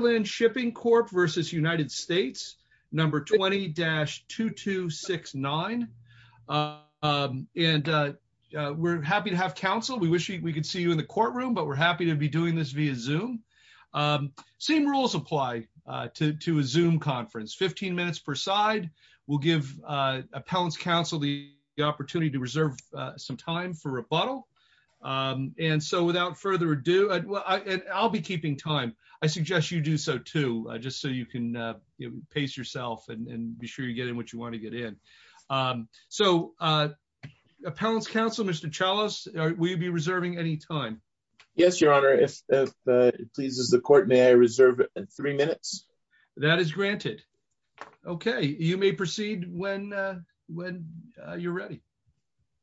20-2269. And we're happy to have counsel. We wish we could see you in the courtroom, but we're happy to be doing this via zoom. Same rules apply to a zoom conference 15 minutes per side will give appellants counsel the opportunity to reserve some time for rebuttal. And so without further ado, I'll be keeping time, I suggest you do so too, just so you can pace yourself and be sure you get in what you want to get in. So, appellants counsel Mr Charles, we'd be reserving any time. Yes, Your Honor, if it pleases the court may I reserve three minutes. That is granted. Okay, you may proceed when, when you're ready.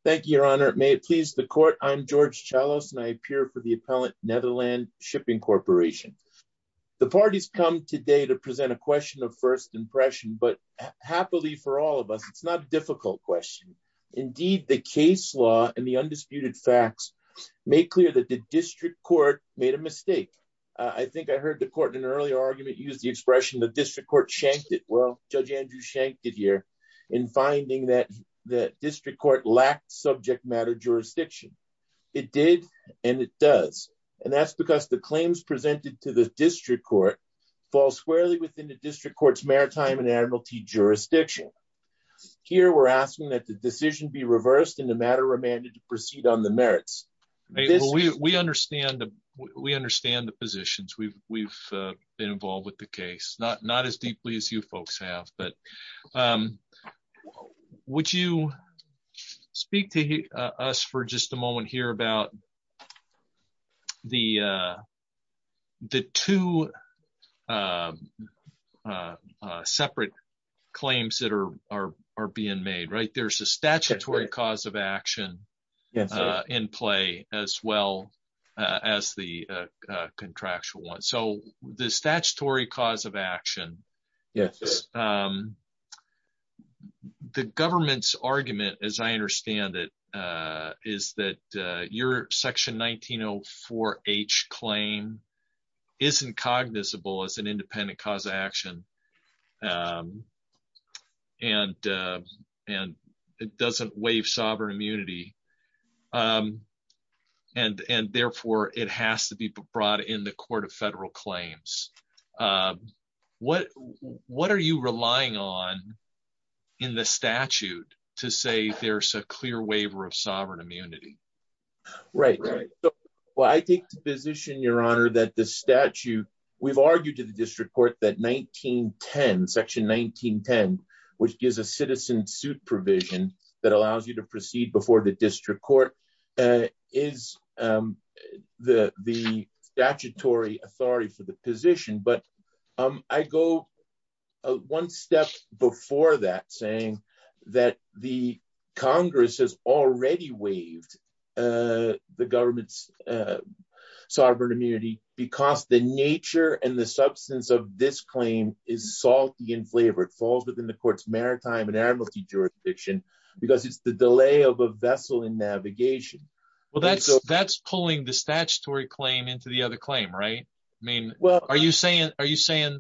Thank you, Your Honor, it may please the court. I'm George chalice and I appear for the appellant Netherlands Shipping Corporation. The parties come today to present a question of first impression but happily for all of us, it's not difficult question. Indeed, the case law and the undisputed facts, make clear that the district court made a mistake. I think I heard the court in an earlier argument use the expression the district court shanked it well, Judge Andrew shanked it here in finding that that district court lacked subject matter jurisdiction. It did, and it does. And that's because the claims presented to the district court falls squarely within the district courts maritime and Admiralty jurisdiction. Here we're asking that the decision be reversed in the matter remanded to proceed on the merits. We understand that we understand the positions we've, we've been involved with the case not not as deeply as you folks have but would you speak to us for just a moment here about the, the two separate claims that are are are being made right there's a statutory cause of action in play, as well as the contractual one so the statutory cause of action. Yes. The government's argument, as I understand it, is that your section 1904 H claim isn't cognizable as an independent cause of action. And, and it doesn't waive sovereign immunity. And, and therefore it has to be brought in the Court of Federal Claims. What, what are you relying on in the statute to say there's a clear waiver of sovereign immunity. Right. Well I think the position Your Honor that the statute. We've argued to the district court that 1910 section 1910, which gives a citizen suit provision that allows you to proceed before the district court is the, the statutory authority for the position but I go. One step before that saying that the Congress has already waived the government's sovereign immunity, because the nature and the substance of this claim is salty and flavored falls within the courts maritime and amnesty jurisdiction, because it's the delay of a vessel in navigation. Well that's that's pulling the statutory claim into the other claim right. I mean, well, are you saying, are you saying.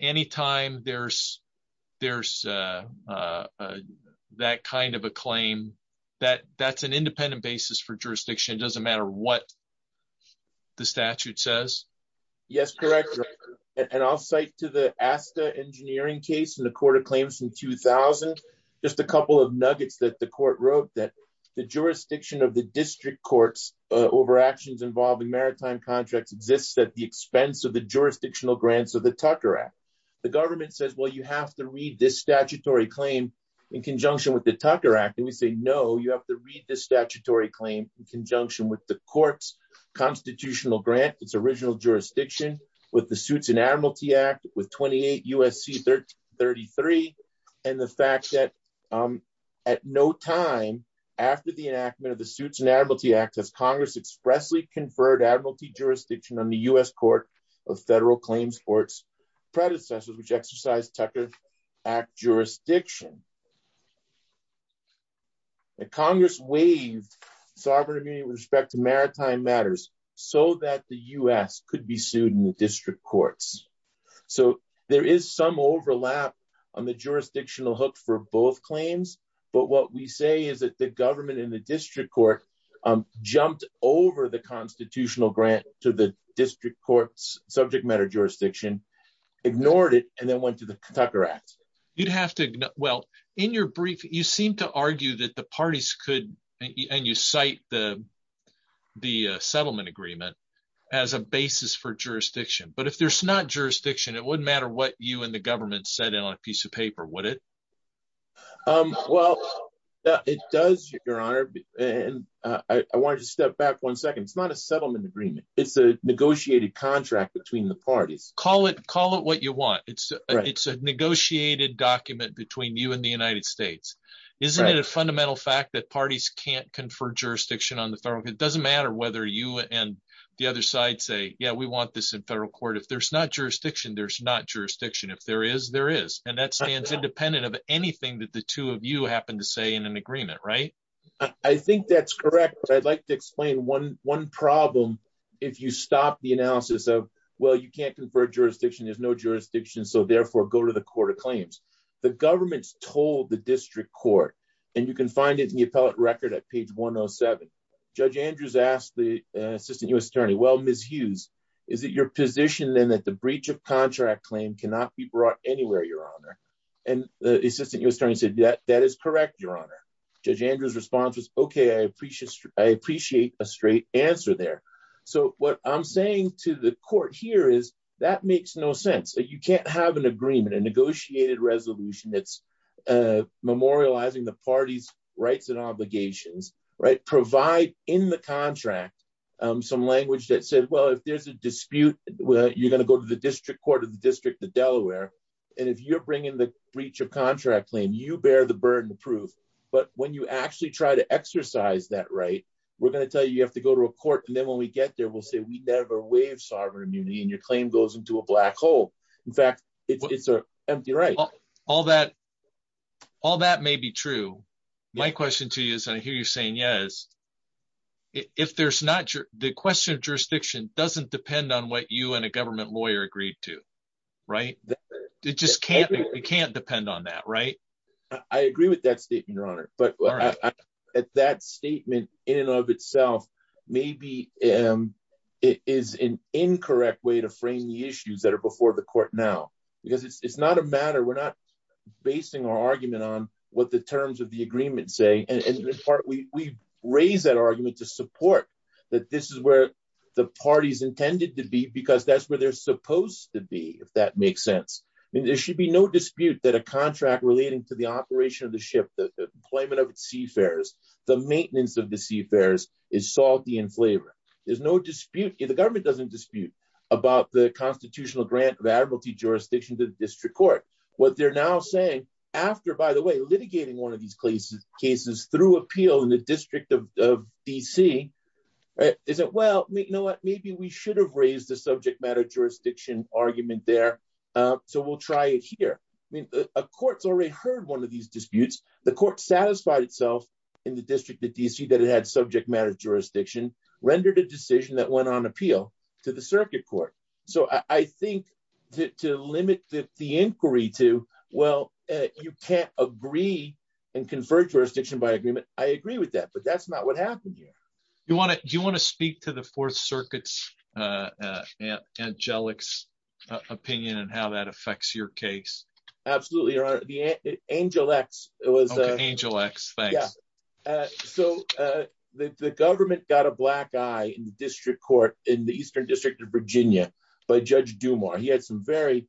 Anytime there's, there's that kind of a claim that that's an independent basis for jurisdiction doesn't matter what the statute says. Yes, correct. And I'll say to the ASTA engineering case in the Court of Claims in 2000, just a couple of nuggets that the court wrote that the jurisdiction of the district courts over actions involving maritime contracts exists at the expense of the jurisdictional grants of the statutory claim in conjunction with the Tucker act and we say no you have to read the statutory claim in conjunction with the courts constitutional grant its original jurisdiction with the suits and Admiralty Act with 28 USC 1333. And the fact that at no time after the enactment of the suits and Admiralty Act as Congress expressly conferred Admiralty jurisdiction on the US Court of Federal Claims courts predecessors which exercise Tucker act jurisdiction. Congress waived sovereign immunity with respect to maritime matters, so that the US could be sued in the district courts. So, there is some overlap on the jurisdictional hook for both claims, but what we say is that the government in the district court jumped over the constitutional grant to the district courts subject matter jurisdiction ignored it, and then went to the Tucker act, you'd have to. Well, in your brief you seem to argue that the parties could and you cite the the settlement agreement as a basis for jurisdiction, but if there's not jurisdiction it wouldn't matter what you and the government said on a piece of paper would it. Well, it does, Your Honor, and I wanted to step back one second it's not a settlement agreement, it's a negotiated contract between the parties, call it call it what you want it's, it's a negotiated document between you and the United States. Isn't it a fundamental fact that parties can't confer jurisdiction on the federal it doesn't matter whether you and the other side say yeah we want this in federal court if there's not jurisdiction there's not jurisdiction if there is there is, and that stands independent of anything that the two of you happen to say in an agreement right. I think that's correct, but I'd like to explain one one problem. If you stop the analysis of, well, you can't confer jurisdiction there's no jurisdiction so therefore go to the court of claims, the government's told the district court, and you can find it in the appellate Okay, I appreciate, I appreciate a straight answer there. So, what I'm saying to the court here is that makes no sense that you can't have an agreement and negotiated resolution that's memorializing the party's rights and obligations right provide in the contract. Some language that said well if there's a dispute, you're going to go to the district court of the district of Delaware. And if you're bringing the breach of contract claim you bear the burden of proof, but when you actually try to exercise that right. We're going to tell you you have to go to a court and then when we get there we'll say we never waive sovereign immunity and your claim goes into a black hole. In fact, it's an empty right. All that. All that may be true. My question to you is I hear you saying yes. If there's not the question of jurisdiction doesn't depend on what you and a government lawyer agreed to. Right. It just can't, it can't depend on that right. I agree with that statement your honor, but at that statement, in and of itself, maybe it is an incorrect way to frame the issues that are before the court now, because it's not a matter we're not basing our argument on what the terms of the agreement say, and we raise that argument to support that this is where the parties intended to be because that's where they're supposed to be, if that makes sense. There should be no dispute that a contract relating to the operation of the ship that the employment of seafarers, the maintenance of the seafarers is salty and flavor. There's no dispute in the government doesn't dispute about the constitutional grant of admiralty jurisdiction to the district court, what they're now saying after by the way litigating one of these cases cases through appeal in the district of DC. Is it well, you know what, maybe we should have raised the subject matter jurisdiction argument there. So we'll try it here. I mean, a court's already heard one of these disputes, the court satisfied itself in the district of DC that it had subject matter jurisdiction rendered a decision that went on appeal to the circuit court. So I think to limit the inquiry to, well, you can't agree and convert jurisdiction by agreement, I agree with that but that's not what happened here. You want to, you want to speak to the Fourth Circuit's angelics opinion and how that affects your case. Absolutely. Angel X. It was Angel X. So, the government got a black eye in the district court in the eastern district of Virginia by Judge do more he had some very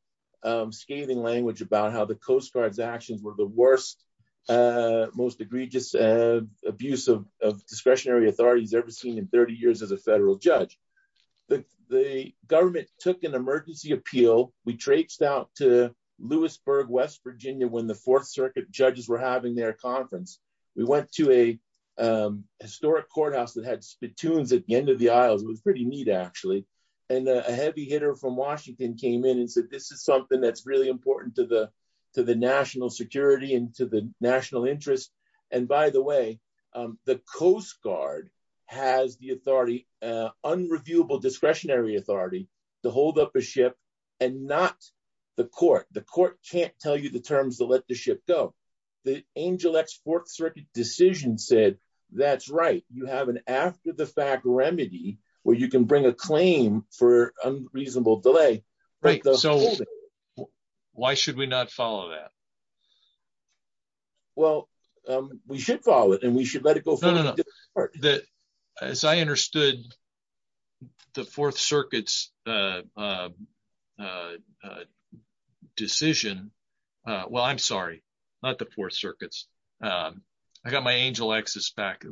scathing language about how the Coast Guard's actions were the worst. Most egregious abuse of discretionary authorities ever seen in 30 years as a federal judge. The government took an emergency appeal, we traced out to Lewisburg West Virginia when the Fourth Circuit judges were having their conference. We went to a historic courthouse that had spittoons at the end of the aisles was pretty neat actually. And a heavy hitter from Washington came in and said this is something that's really important to the to the national security and to the national interest. And by the way, the Coast Guard has the authority unreviewable discretionary authority to hold up a ship, and not the court, the court can't tell you the terms to let the ship go. The Angel X Fourth Circuit decision said, that's right, you have an after the fact remedy, where you can bring a claim for unreasonable delay. Right. Why should we not follow that. Well, we should follow it and we should let it go. That, as I understood the Fourth Circuit's decision. Well, I'm sorry, not the Fourth Circuit's. I got my angel X's back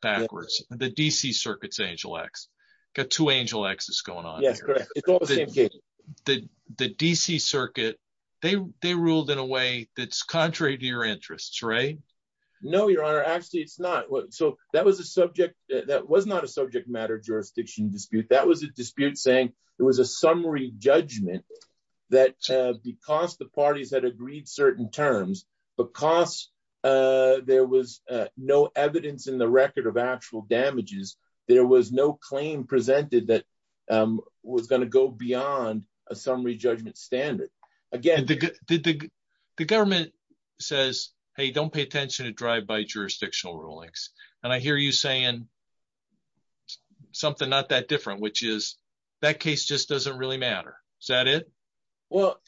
backwards, the DC circuits Angel X got to Angel X is going on. The, the DC circuit. They, they ruled in a way that's contrary to your interests right. No, Your Honor actually it's not what so that was a subject that was not a subject matter jurisdiction dispute that was a dispute saying it was a summary judgment that because the parties that agreed certain terms, because there was no evidence in the record of actual damages. There was no claim presented that was going to go beyond a summary judgment standard. Again, the government says, Hey, don't pay attention to drive by jurisdictional rulings, and I hear you saying something not that different which is that case just doesn't really matter. Is that it. Well,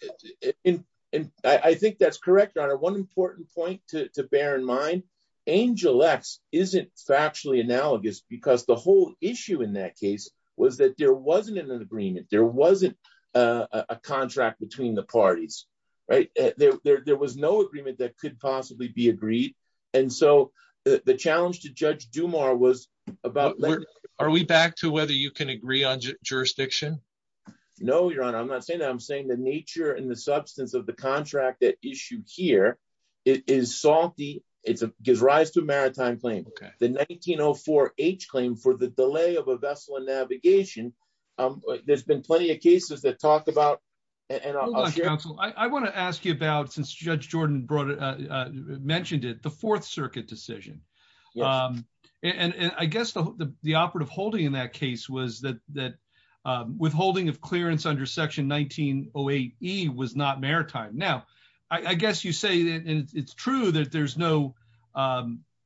in, in, I think that's correct on one important point to bear in mind, Angel X isn't factually analogous because the whole issue in that case was that there wasn't an agreement there wasn't a contract between the parties, right, there was no agreement that could possibly be agreed. And so the challenge to judge do more was about. Are we back to whether you can agree on jurisdiction. No, Your Honor, I'm not saying I'm saying the nature and the substance of the contract that issue here is salty, it's a gives rise to a maritime claim, the 1904 age claim for the delay of a vessel and navigation. There's been plenty of cases that talked about. And I want to ask you about since Judge Jordan brought mentioned it the Fourth Circuit decision. And I guess the operative holding in that case was that that withholding of clearance under section 1908 he was not maritime now, I guess you say that it's true that there's no.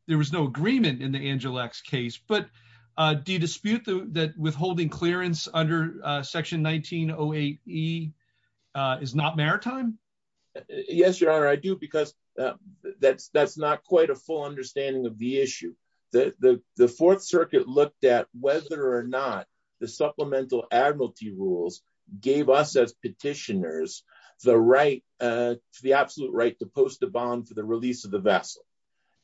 There was no agreement in the Angel X case but do you dispute that withholding clearance under section 1908 he is not maritime. Yes, Your Honor, I do because that's that's not quite a full understanding of the issue that the Fourth Circuit looked at whether or not the supplemental Admiralty rules gave us as petitioners, the right to the absolute right to post a bond for the release of the vessel.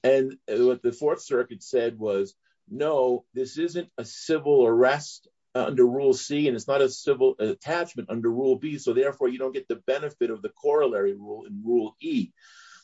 And what the Fourth Circuit said was, no, this isn't a civil arrest under Rule C and it's not a civil attachment under Rule B so therefore you don't get the benefit of the corollary rule in Rule E.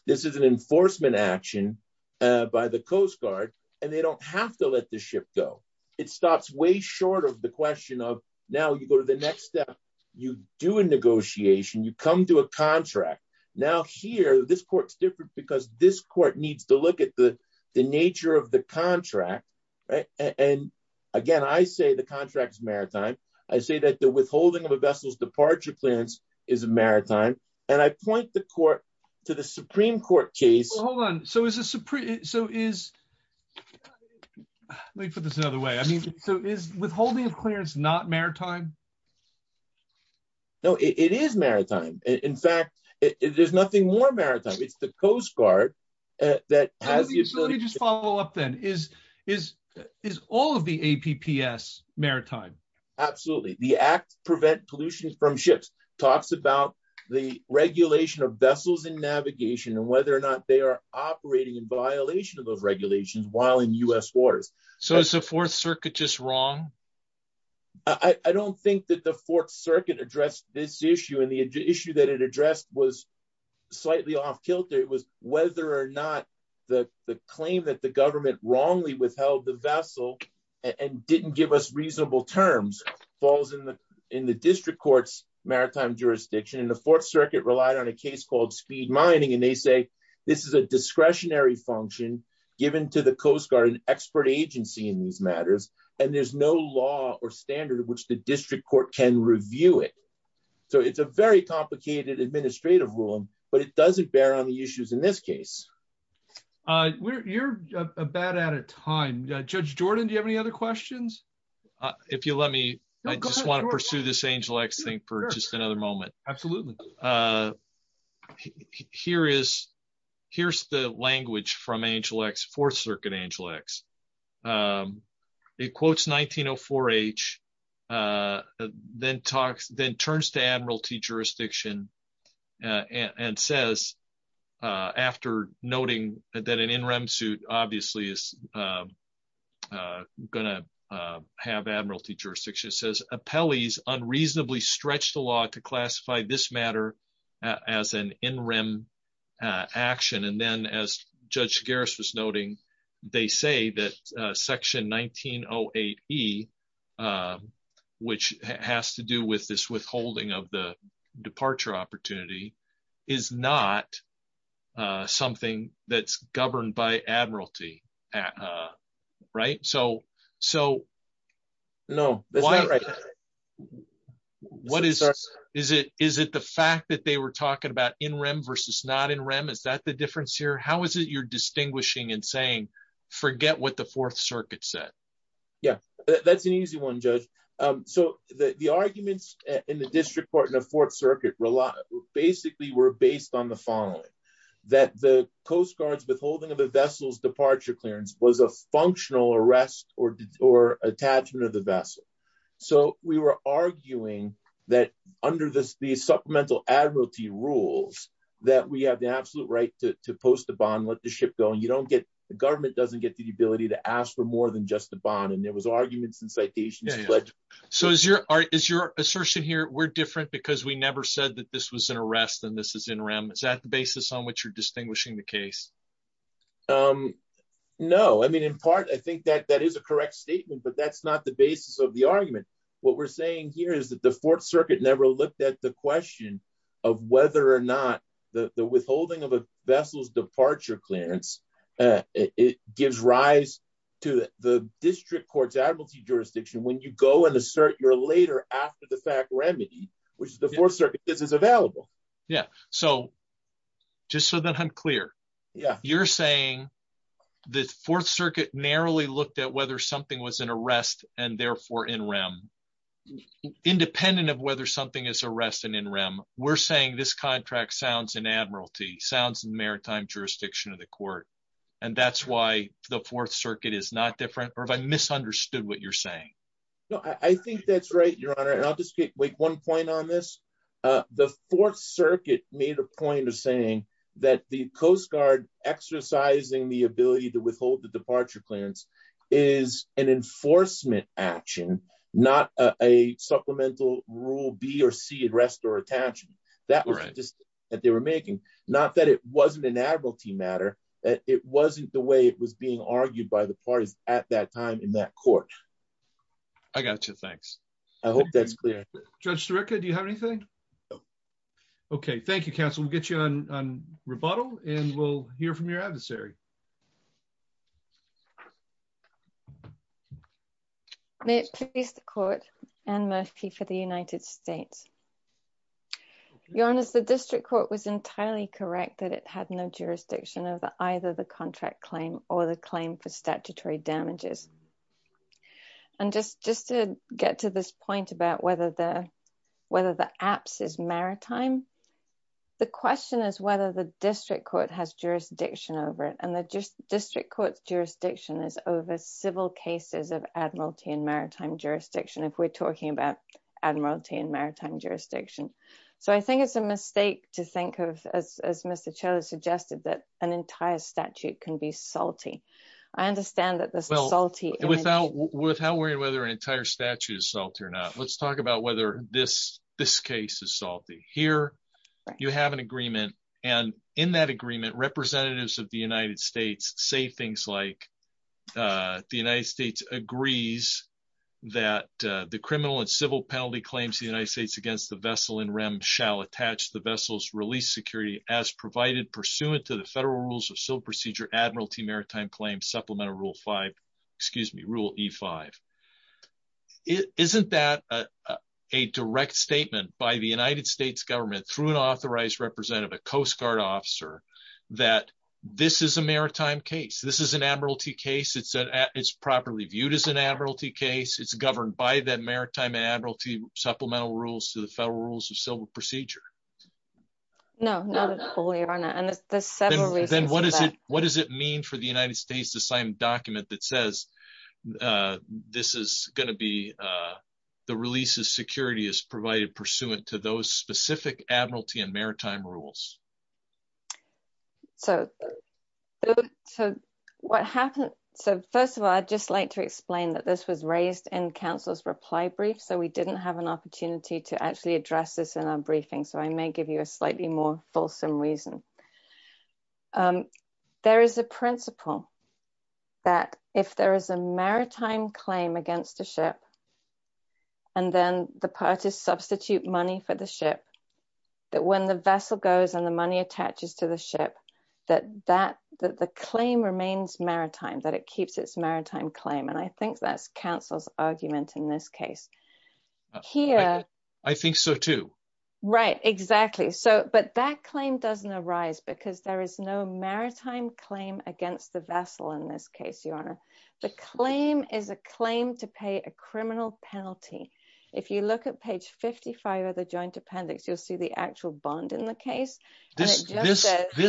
This is an enforcement action by the Coast Guard, and they don't have to let the ship go. It stops way short of the question of, now you go to the next step, you do a negotiation you come to a contract. Now here this court's different because this court needs to look at the, the nature of the contract. Right. And again I say the contracts maritime. I say that the withholding of a vessel's departure clearance is a maritime, and I point the court to the Supreme Court case. Hold on. So is this a pretty so is. Let me put this another way. I mean, so is withholding of clearance not maritime. No, it is maritime. In fact, it is nothing more maritime it's the Coast Guard, that has the ability to follow up then is, is, is all of the APPS maritime. Absolutely. The act prevent pollution from ships talks about the regulation of vessels and navigation and whether or not they are operating in violation of those regulations while in US waters. So is the Fourth Circuit just wrong. I don't think that the Fourth Circuit addressed this issue and the issue that it addressed was slightly off kilter it was whether or not the claim that the government wrongly withheld the vessel and didn't give us reasonable terms falls in the, in the district court's maritime jurisdiction and the Fourth Circuit relied on a case called speed mining and they say this is a discretionary function, given to the Coast Guard an expert agency in these matters, and there's no law or standard which the district court can review it. So it's a very complicated administrative rule, but it doesn't bear on the issues in this case. We're about out of time, Judge Jordan, do you have any other questions. If you let me, I just want to pursue this angel x thing for just another moment. Absolutely. Here is, here's the language from angel x Fourth Circuit angel x quotes 1904 H, then talks, then turns to Admiralty jurisdiction and says, after noting that an interim suit, obviously is going to have Admiralty jurisdiction says appellees unreasonably stretch the law to classify this matter as an interim action and then as Judge Garris was noting, they say that section 1908 he, which has to do with this withholding of the departure opportunity is not something that's governed by Admiralty. Right, so, so, no. What is, is it, is it the fact that they were talking about in REM versus not in REM is that the difference here how is it you're distinguishing and saying, forget what the Fourth Circuit said, yeah, that's an easy one judge. So, the arguments in the district court in the Fourth Circuit rely basically were based on the following that the Coast Guard's withholding of the vessels departure clearance was a functional arrest or, or attachment of the vessel. So, we were arguing that under this the supplemental Admiralty rules that we have the absolute right to post the bond with the ship going you don't get the government doesn't get the ability to ask for more than just the bond and there was arguments and citations. So is your, is your assertion here we're different because we never said that this was an arrest and this is in REM is that the basis on which you're distinguishing the case. No, I mean in part I think that that is a correct statement but that's not the basis of the argument. What we're saying here is that the Fourth Circuit never looked at the question of whether or not the withholding of a vessels departure clearance. It gives rise to the district courts Admiralty jurisdiction when you go and assert your later after the fact remedy, which is the Fourth Circuit this is available. Yeah. So, just so that I'm clear. Yeah, you're saying the Fourth Circuit narrowly looked at whether something was an arrest, and therefore in REM, independent of whether something is arrested in REM, we're saying this contract sounds in Admiralty sounds maritime jurisdiction of the court. And that's why the Fourth Circuit is not different, or if I misunderstood what you're saying. No, I think that's right, Your Honor, and I'll just make one point on this. The Fourth Circuit made a point of saying that the Coast Guard exercising the ability to withhold the departure clearance is an enforcement action, not a supplemental rule B or C and rest or attach that were just that they were making, not that it wasn't an Admiralty matter that it wasn't the way it was being argued by the parties at that time in that court. I got you. Thanks. I hope that's clear, just to record you have anything. Okay, thank you. Council will get you on rebuttal, and we'll hear from your adversary. May it please the court and Murphy for the United States. Your Honor, the district court was entirely correct that it had no jurisdiction of either the contract claim or the claim for statutory damages. And just just to get to this point about whether the, whether the apps is maritime. The question is whether the district court has jurisdiction over it and the district courts jurisdiction is over civil cases of Admiralty and maritime jurisdiction if we're talking about Admiralty and maritime jurisdiction. So I think it's a mistake to think of as Mr. Choi suggested that an entire statute can be salty. I understand that this salty without without worrying whether an entire statues salt or not, let's talk about whether this, this case is salty here. You have an agreement, and in that agreement representatives of the United States, say things like the United States agrees that the criminal and civil penalty claims the United States against the vessel and REM shall attach the vessels release security as provided pursuant to the federal rules of civil procedure Admiralty maritime claim supplemental rule five, excuse me rule five. It isn't that a direct statement by the United States government through an authorized representative a Coast Guard officer that this is a maritime case this is an Admiralty case it's it's properly viewed as an Admiralty case it's governed by that maritime Admiralty supplemental rules to the federal rules of civil procedure. No, not at all your honor and there's several reasons. What does it mean for the United States the same document that says this is going to be the releases security is provided pursuant to those specific Admiralty and maritime rules. So, so what happened. So first of all I'd just like to explain that this was raised in councils reply brief so we didn't have an opportunity to actually address this in our briefing so I may give you a slightly more fulsome reason. There is a principle that if there is a maritime claim against the ship. And then the parties substitute money for the ship that when the vessel goes and the money attaches to the ship that that the claim remains maritime that it keeps its maritime claim and I think that's councils argument in this case here. I think so too. Right, exactly. So, but that claim doesn't arise because there is no maritime claim against the vessel in this case your honor. The claim is a claim to pay a criminal penalty. If you look at page 55 of the joint appendix you'll see the actual bond in the case. This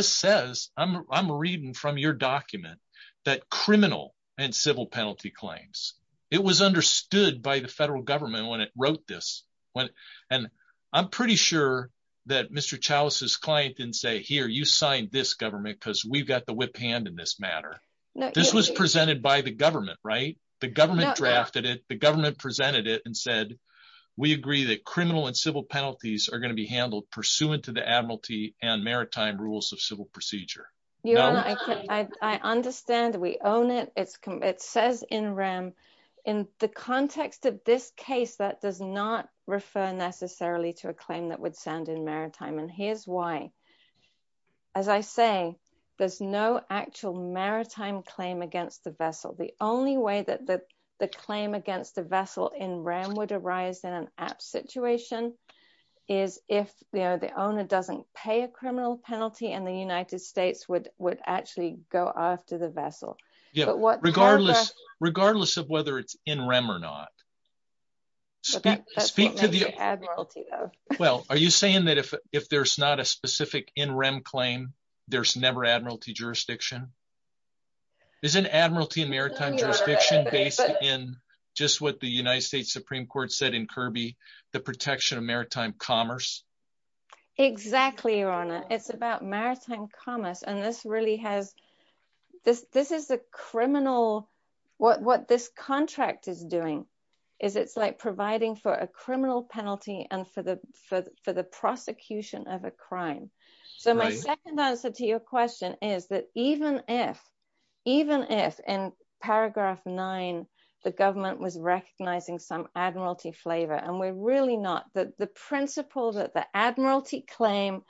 says, I'm reading from your document that criminal and civil penalty claims. It was understood by the federal government when it wrote this one. And I'm pretty sure that Mr Chalice's client didn't say here you sign this government because we've got the whip hand in this matter. This was presented by the government right the government drafted it the government presented it and said, we agree that criminal and civil penalties are going to be handled pursuant to the admiralty and maritime rules of civil procedure. I understand we own it, it says in RAM. In the context of this case that does not refer necessarily to a claim that would sound in maritime and here's why. As I say, there's no actual maritime claim against the vessel. The only way that the claim against the vessel in RAM would arise in an app situation is if the owner doesn't pay a criminal penalty and the United States would would actually go after the vessel. Yeah, but what regardless, regardless of whether it's in REM or not. Well, are you saying that if, if there's not a specific in REM claim, there's never admiralty jurisdiction is an admiralty maritime jurisdiction based in just what the United States Supreme Court said in Kirby, the protection of maritime commerce. Exactly, Your Honor, it's about maritime commerce and this really has this, this is a criminal. What this contract is doing is it's like providing for a criminal penalty and for the, for the prosecution of a crime. So my second answer to your question is that even if, even if in paragraph nine, the government was recognizing some admiralty flavor and we're really not that the principle that the admiralty claim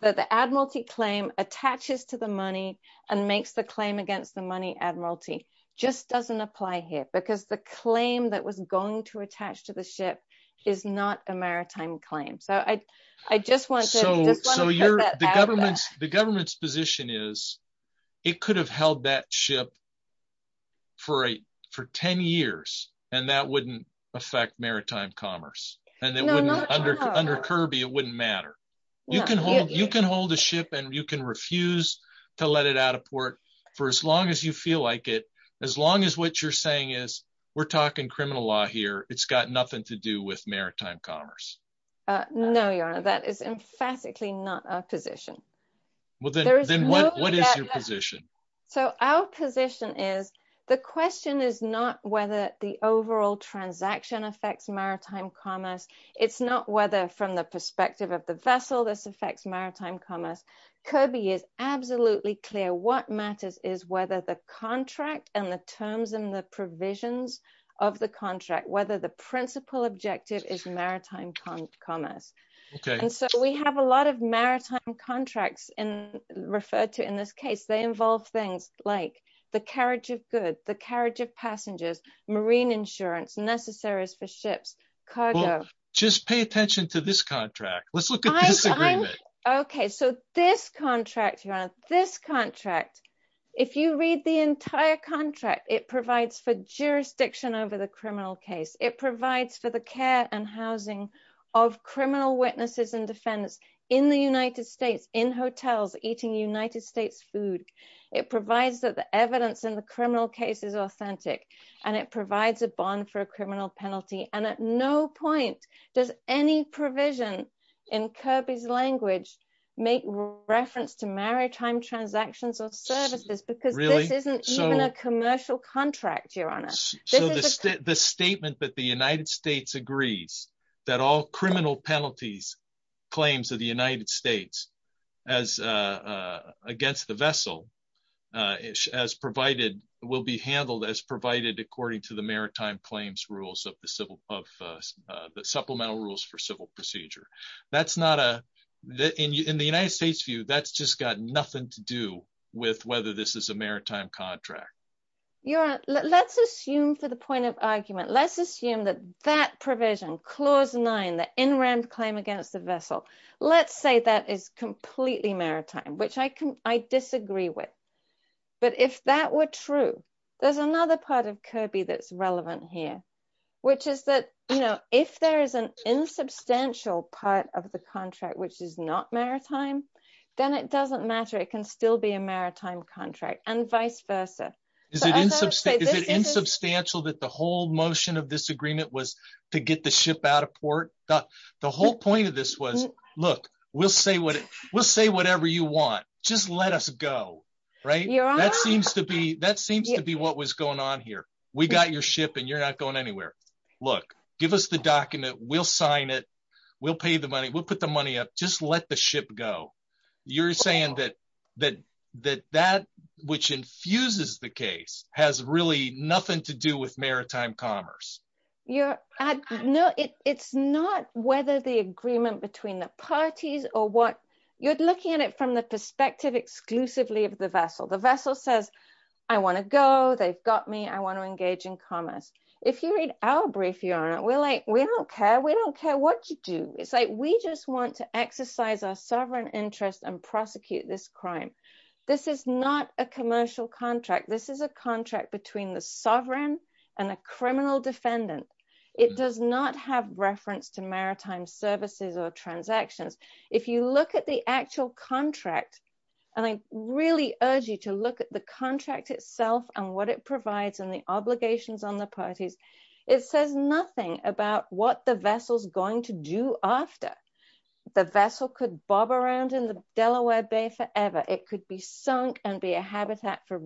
that the admiralty claim attaches to the money and makes the claim against the money admiralty just doesn't apply here because the claim that was going to attach to the ship is not a maritime claim so I, I just want to. So, so you're the government's the government's position is it could have held that ship for a for 10 years, and that wouldn't affect maritime commerce, and it wouldn't under under Kirby it wouldn't matter. You can hold you can hold a ship and you can refuse to let it out of port for as long as you feel like it, as long as what you're saying is we're talking criminal law here, it's got nothing to do with maritime commerce. No, that is emphatically not a position. What is your position. So our position is the question is not whether the overall transaction affects maritime commerce, it's not whether from the perspective of the vessel this affects maritime commerce Kirby is absolutely clear what matters is whether the contracts in referred to in this case they involve things like the carriage of good the carriage of passengers marine insurance necessaries for ships cargo, just pay attention to this contract, let's look at. Okay, so this contract you have this contract. If you read the entire contract, it provides for jurisdiction over the criminal case, it provides for the care and housing of criminal witnesses and defense in the United States in hotels, eating United States food. It provides that the evidence in the criminal case is authentic, and it provides a bond for a criminal penalty and at no point. Does any provision in Kirby's language, make reference to maritime transactions or services because really isn't a commercial contract the statement that the United States agrees that all criminal penalties claims of the United States as against the vessel is as provided will be handled as provided according to the maritime claims rules of the civil of the supplemental rules for civil procedure. That's not a that in the United States view that's just got nothing to do with whether this is a maritime contract. You're, let's assume for the point of argument let's assume that that provision clause nine that in round claim against the vessel. Let's say that is completely maritime which I can, I disagree with. But if that were true. There's another part of Kirby that's relevant here, which is that, you know, if there is an insubstantial part of the contract which is not maritime, then it doesn't matter it can still be a maritime contract and vice versa. Is it is it insubstantial that the whole motion of this agreement was to get the ship out of port, the whole point of this was, look, we'll say what we'll say whatever you want, just let us go. Right. Yeah, that seems to be that seems to be what was going on here. We got your ship and you're not going anywhere. Look, give us the document will sign it will pay the money will put the money up just let the ship go. You're saying that, that, that, that, which infuses the case has really nothing to do with maritime commerce, your ad know it's not whether the agreement between the parties, or what you're looking at it from the perspective exclusively of the vessel The vessel says, I want to go they've got me I want to engage in commerce. If you read our brief you're like we don't care we don't care what you do, it's like we just want to exercise our sovereign interest and prosecute this crime. This is not a commercial contract. This is a contract between the sovereign and a criminal defendant. It does not have reference to maritime services or transactions. If you look at the actual contract. And I really urge you to look at the contract itself and what it provides and the obligations on the parties. It says nothing about what the vessels going to do after the vessel could bob around in the Delaware Bay forever, it could be sunk and be a habitat for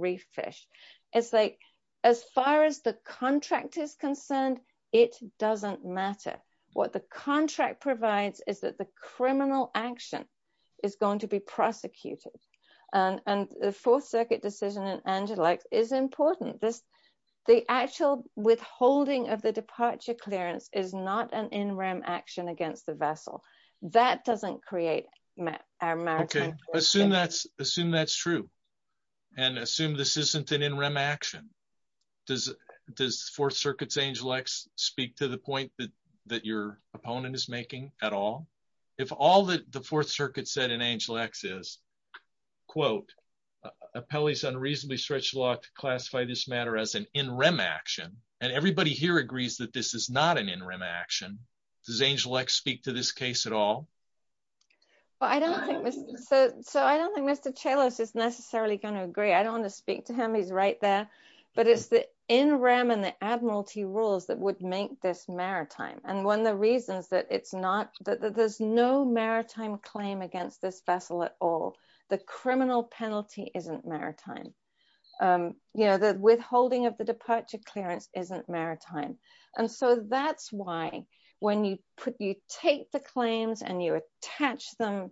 And the fourth circuit decision and Angelix is important this, the actual withholding of the departure clearance is not an in rem action against the vessel that doesn't create a maritime assume that's assume that's true. And assume this isn't an in rem action. Does this Fourth Circuit's Angelix speak to the point that that your opponent is making at all. If all that the Fourth Circuit said in Angelix is quote appellees unreasonably stretch law to classify this matter as an in rem action, and everybody here agrees that this is not an in rem action. Does Angelix speak to this case at all. But I don't think so. So I don't think Mr chalice is necessarily going to agree. I don't want to speak to him. He's right there. But it's the in rem and the Admiralty rules that would make this maritime and one of the reasons that it's not that there's no maritime claim against this vessel at all. The criminal penalty isn't maritime. You know the withholding of the departure clearance isn't maritime. And so that's why when you put you take the claims and you attach them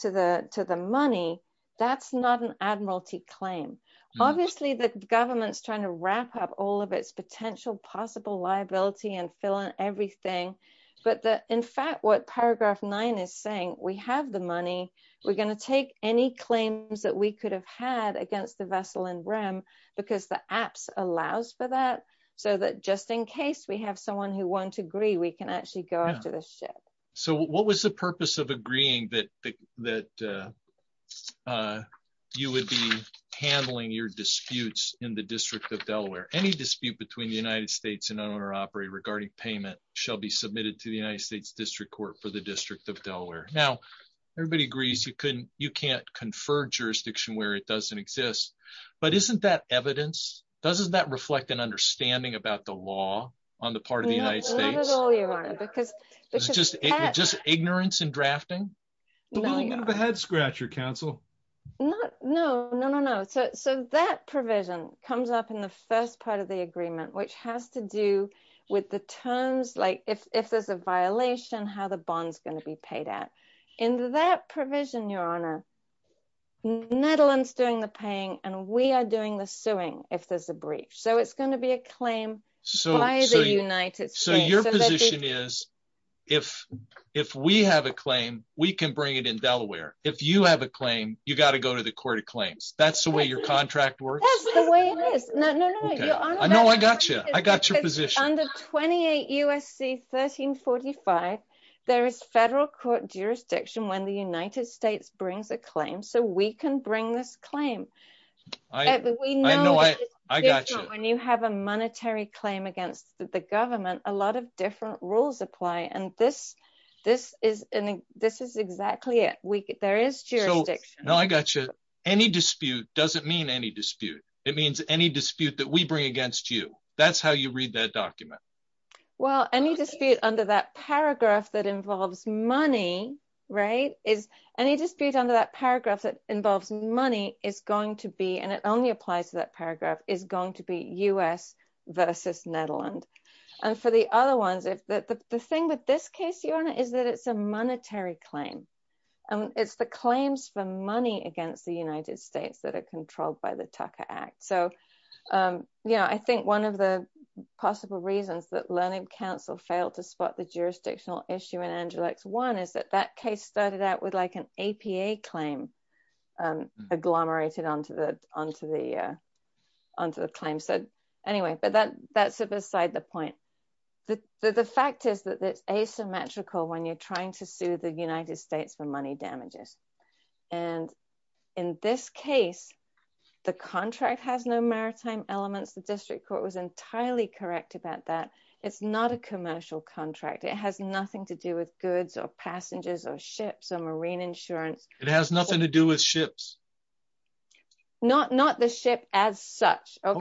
to the to the money. That's not an Admiralty claim. Obviously the government's trying to wrap up all of its potential possible liability and fill in everything. But the in fact what paragraph nine is saying we have the money, we're going to take any claims that we could have had against the vessel and Ram, because the apps allows for that. So that just in case we have someone who won't agree we can actually go to the ship. So what was the purpose of agreeing that that you would be handling your disputes in the District of Delaware, any dispute between the United States and owner operate regarding payment shall be submitted to the United States District Court for the District of Delaware. Now, everybody agrees you couldn't, you can't confer jurisdiction where it doesn't exist. But isn't that evidence, doesn't that reflect an understanding about the law on the part of the United States, because it's just just ignorance and drafting. No, no, no, no. So, so that provision comes up in the first part of the agreement which has to do with the terms like if there's a violation how the bonds going to be paid out in that provision your honor Netherlands doing the paying, and we are doing the suing, if there's a breach so it's going to be a claim. So, so your position is, if, if we have a claim, we can bring it in Delaware, if you have a claim, you got to go to the court of claims, that's the way your contract works. I know I gotcha, I got your position under 28 USC 1345. There is federal court jurisdiction when the United States brings a claim so we can bring this claim. I know I got you have a monetary claim against the government, a lot of different rules apply and this, this is, this is exactly it, we get there is jurisdiction. I got you. Any dispute doesn't mean any dispute. It means any dispute that we bring against you. That's how you read that document. Well, any dispute under that paragraph that involves money, right, is any dispute under that paragraph that involves money is going to be and it only applies to that paragraph is going to be us versus Netherland. And for the other ones if that the thing with this case your honor is that it's a monetary claim, and it's the claims for money against the United States that are controlled by the Tucker Act so yeah I think one of the possible reasons that learning Council failed to spot the jurisdictional issue in Angelix one is that that case started out with like an APA claim agglomerated onto the, onto the, onto the claim so anyway but then that's beside the point that the fact is that it's asymmetrical when you're And in this case, the contract has no maritime elements the district court was entirely correct about that. It's not a commercial contract it has nothing to do with goods or passengers or ships or marine insurance, it has nothing to do with ships, not not the ship, as such. Go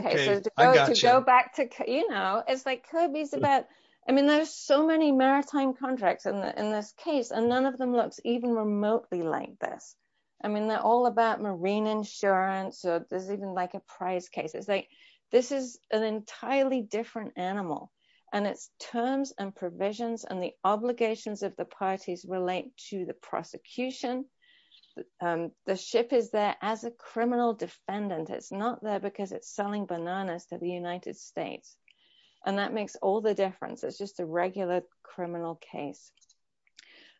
back to, you know, it's like Kirby's about. I mean there's so many maritime contracts and in this case and none of them looks even remotely like this. I mean they're all about marine insurance so there's even like a price cases like this is an entirely different animal, and it's terms and provisions and the obligations of the parties relate to the prosecution. The ship is there as a criminal defendant it's not there because it's selling bananas to the United States. And that makes all the difference it's just a regular criminal case.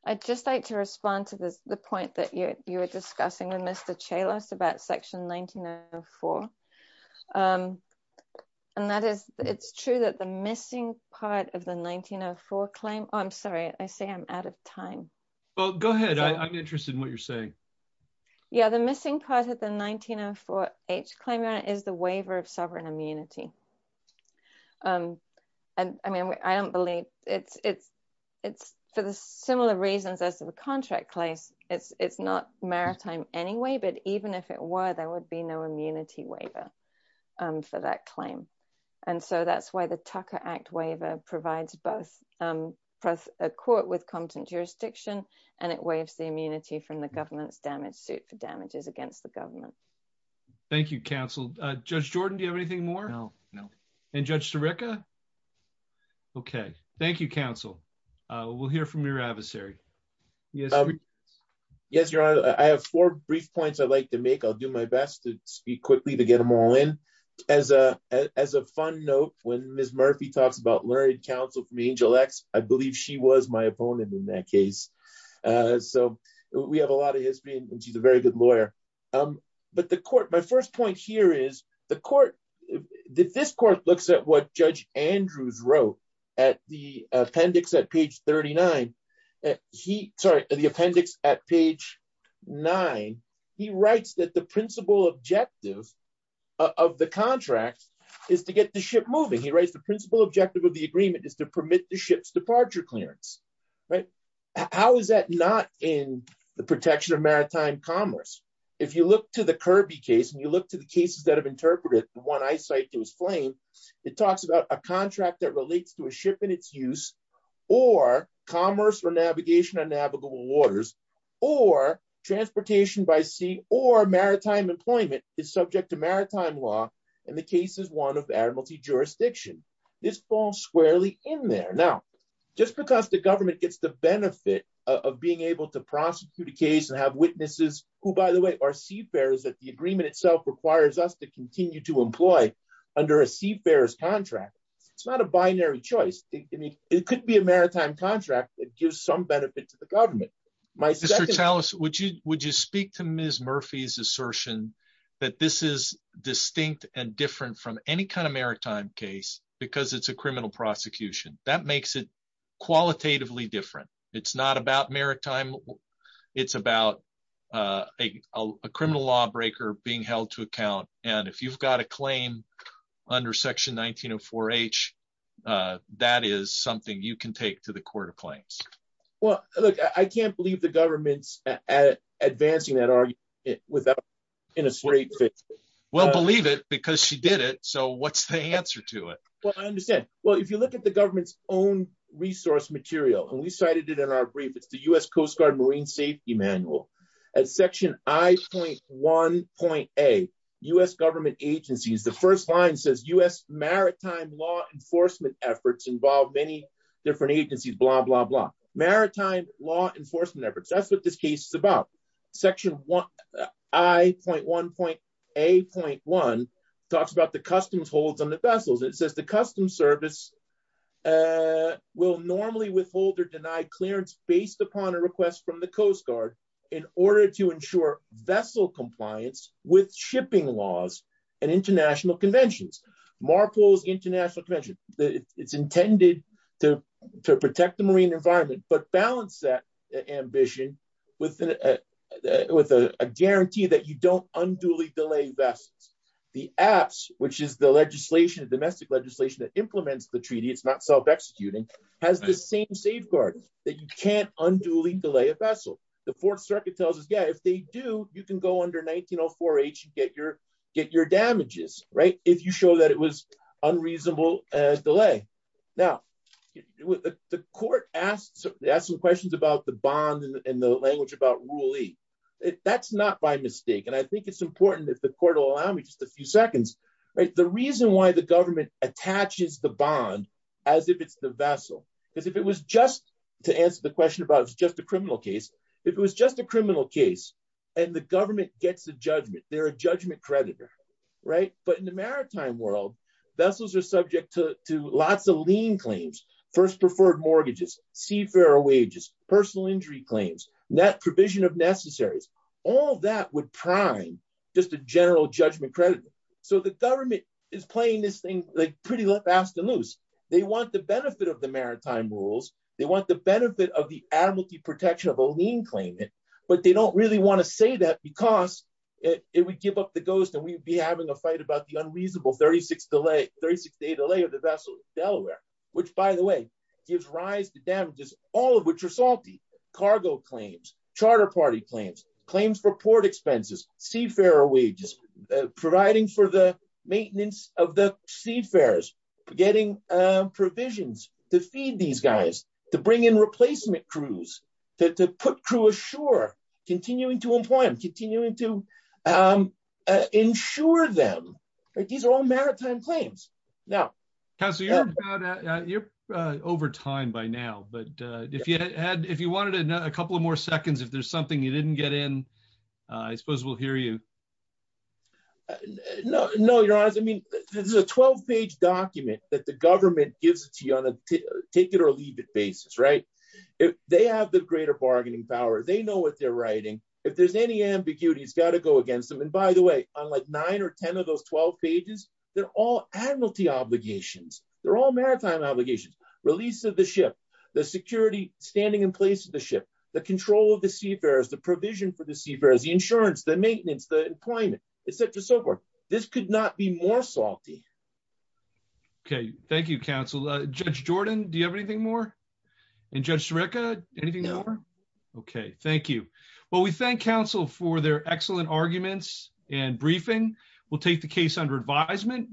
I just like to respond to this, the point that you were discussing with Mr chalice about section 1904. And that is, it's true that the missing part of the 1904 claim, I'm sorry, I say I'm out of time. Well, go ahead. I'm interested in what you're saying. Yeah, the missing part of the 1904 H claim is the waiver of sovereign immunity. And, I mean, I don't believe it's, it's, it's for the similar reasons as the contract place, it's, it's not maritime anyway but even if it were there would be no immunity waiver for that claim. And so that's why the Tucker Act waiver provides both press a court with content jurisdiction, and it waves the immunity from the government's damage suit for damages against the government. Thank you. Thank you counsel, Judge Jordan Do you have anything more. No, no. And Judge to Rica. Okay, thank you counsel. We'll hear from your adversary. Yes. Yes, Your Honor, I have four brief points I'd like to make I'll do my best to speak quickly to get them all in. As a, as a fun note, when Miss Murphy talks about learning counsel from Angel X, I believe she was my opponent in that case. So, we have a lot of history and she's a very good lawyer. But the court my first point here is the court that this court looks at what Judge Andrews wrote at the appendix at page 39. He, sorry, the appendix at page nine. He writes that the principal objective of the contract is to get the ship moving he writes the principal objective of the agreement is to permit the ship's departure clearance. Right. How is that not in the protection of maritime commerce. If you look to the Kirby case and you look to the cases that have interpreted the one I cited was flame. It talks about a contract that relates to a ship in its use or commerce or navigation and navigable waters or transportation by sea or maritime employment is subject to maritime law. And the case is one of Admiralty jurisdiction. This falls squarely in there now, just because the government gets the benefit of being able to prosecute a case and have witnesses who by the way are seafarers that the agreement itself requires us to continue to employ under a seafarers contract. It's not a binary choice. It could be a maritime contract that gives some benefit to the government. My second house, would you, would you speak to Miss Murphy's assertion that this is distinct and different from any kind of maritime case, because it's a criminal prosecution, that makes it qualitatively different. It's not about maritime. It's about a criminal lawbreaker being held to account. And if you've got a claim under section 1904 H. That is something you can take to the court of claims. Well, look, I can't believe the government's at advancing that are without in a straight fit. Well believe it because she did it. So what's the answer to it. Well, I understand. Well, if you look at the government's own resource material and we cited it in our brief it's the US Coast Guard marine safety manual. Section I.1.a US government agencies the first line says US maritime law enforcement efforts involve many different agencies blah blah blah maritime law enforcement efforts that's what this case is about. Section I.1.a.1 talks about the customs holds on the vessels it says the Customs Service will normally withhold or deny clearance based upon a request from the Coast Guard, in order to ensure vessel compliance with shipping laws and international conventions marbles International Convention, it's intended to protect the marine environment but balance that ambition with with a guarantee that you don't unduly delay best the apps, which is the legislation domestic legislation that implements the treaty it's not self executing has the same safeguard that you can't unduly delay a vessel, the Fourth Circuit tells us yeah if they do, you can go under 1904 H get your get your damages, right, if you show that it was unreasonable delay. Okay. Now, with the court asked asked some questions about the bond and the language about really, that's not by mistake and I think it's important if the court will allow me just a few seconds. Right. The reason why the government attaches the bond, as if it's the vessel, because if it was just to answer the question about it's just a criminal case. If it was just a criminal case, and the government gets the judgment, they're a judgment creditor. Right, but in the maritime world vessels are subject to lots of lean claims first preferred mortgages seafarer wages personal injury claims that provision of necessaries, all that would prime, just a general judgment credit. So the government is playing this thing like pretty fast and loose. They want the benefit of the maritime rules, they want the benefit of the amnesty protection of a lean claimant, but they don't really want to say that because it would give up the ghost and we'd be having a fight about the unreasonable 36 delay 36 day delay of the vessel, Delaware, which by the way, gives rise to damages, all of which are salty cargo claims charter party claims claims for port expenses seafarer wages, providing for the maintenance of the seafarers getting provisions to feed these guys to bring in replacement crews to put crew ashore, continuing to employ them continuing to ensure them. These are all maritime claims. Now, so you're over time by now but if you had if you wanted to know a couple of more seconds if there's something you didn't get in. I suppose we'll hear you. No, no, you're honest I mean, this is a 12 page document that the government gives it to you on a ticket or leave it basis right. If they have the greater bargaining power they know what they're writing. If there's any ambiguity it's got to go against them and by the way, unlike nine or 10 of those 12 pages. They're all admiralty obligations, they're all maritime obligations, release of the ship, the security, standing in place of the ship, the control of the seafarers the provision for the seafarers the insurance the maintenance the employment, etc so forth. This could not be more salty. Okay, thank you counsel, Judge Jordan, do you have anything more. And just record anything. Okay, thank you. Well we thank counsel for their excellent arguments and briefing will take the case under advisement.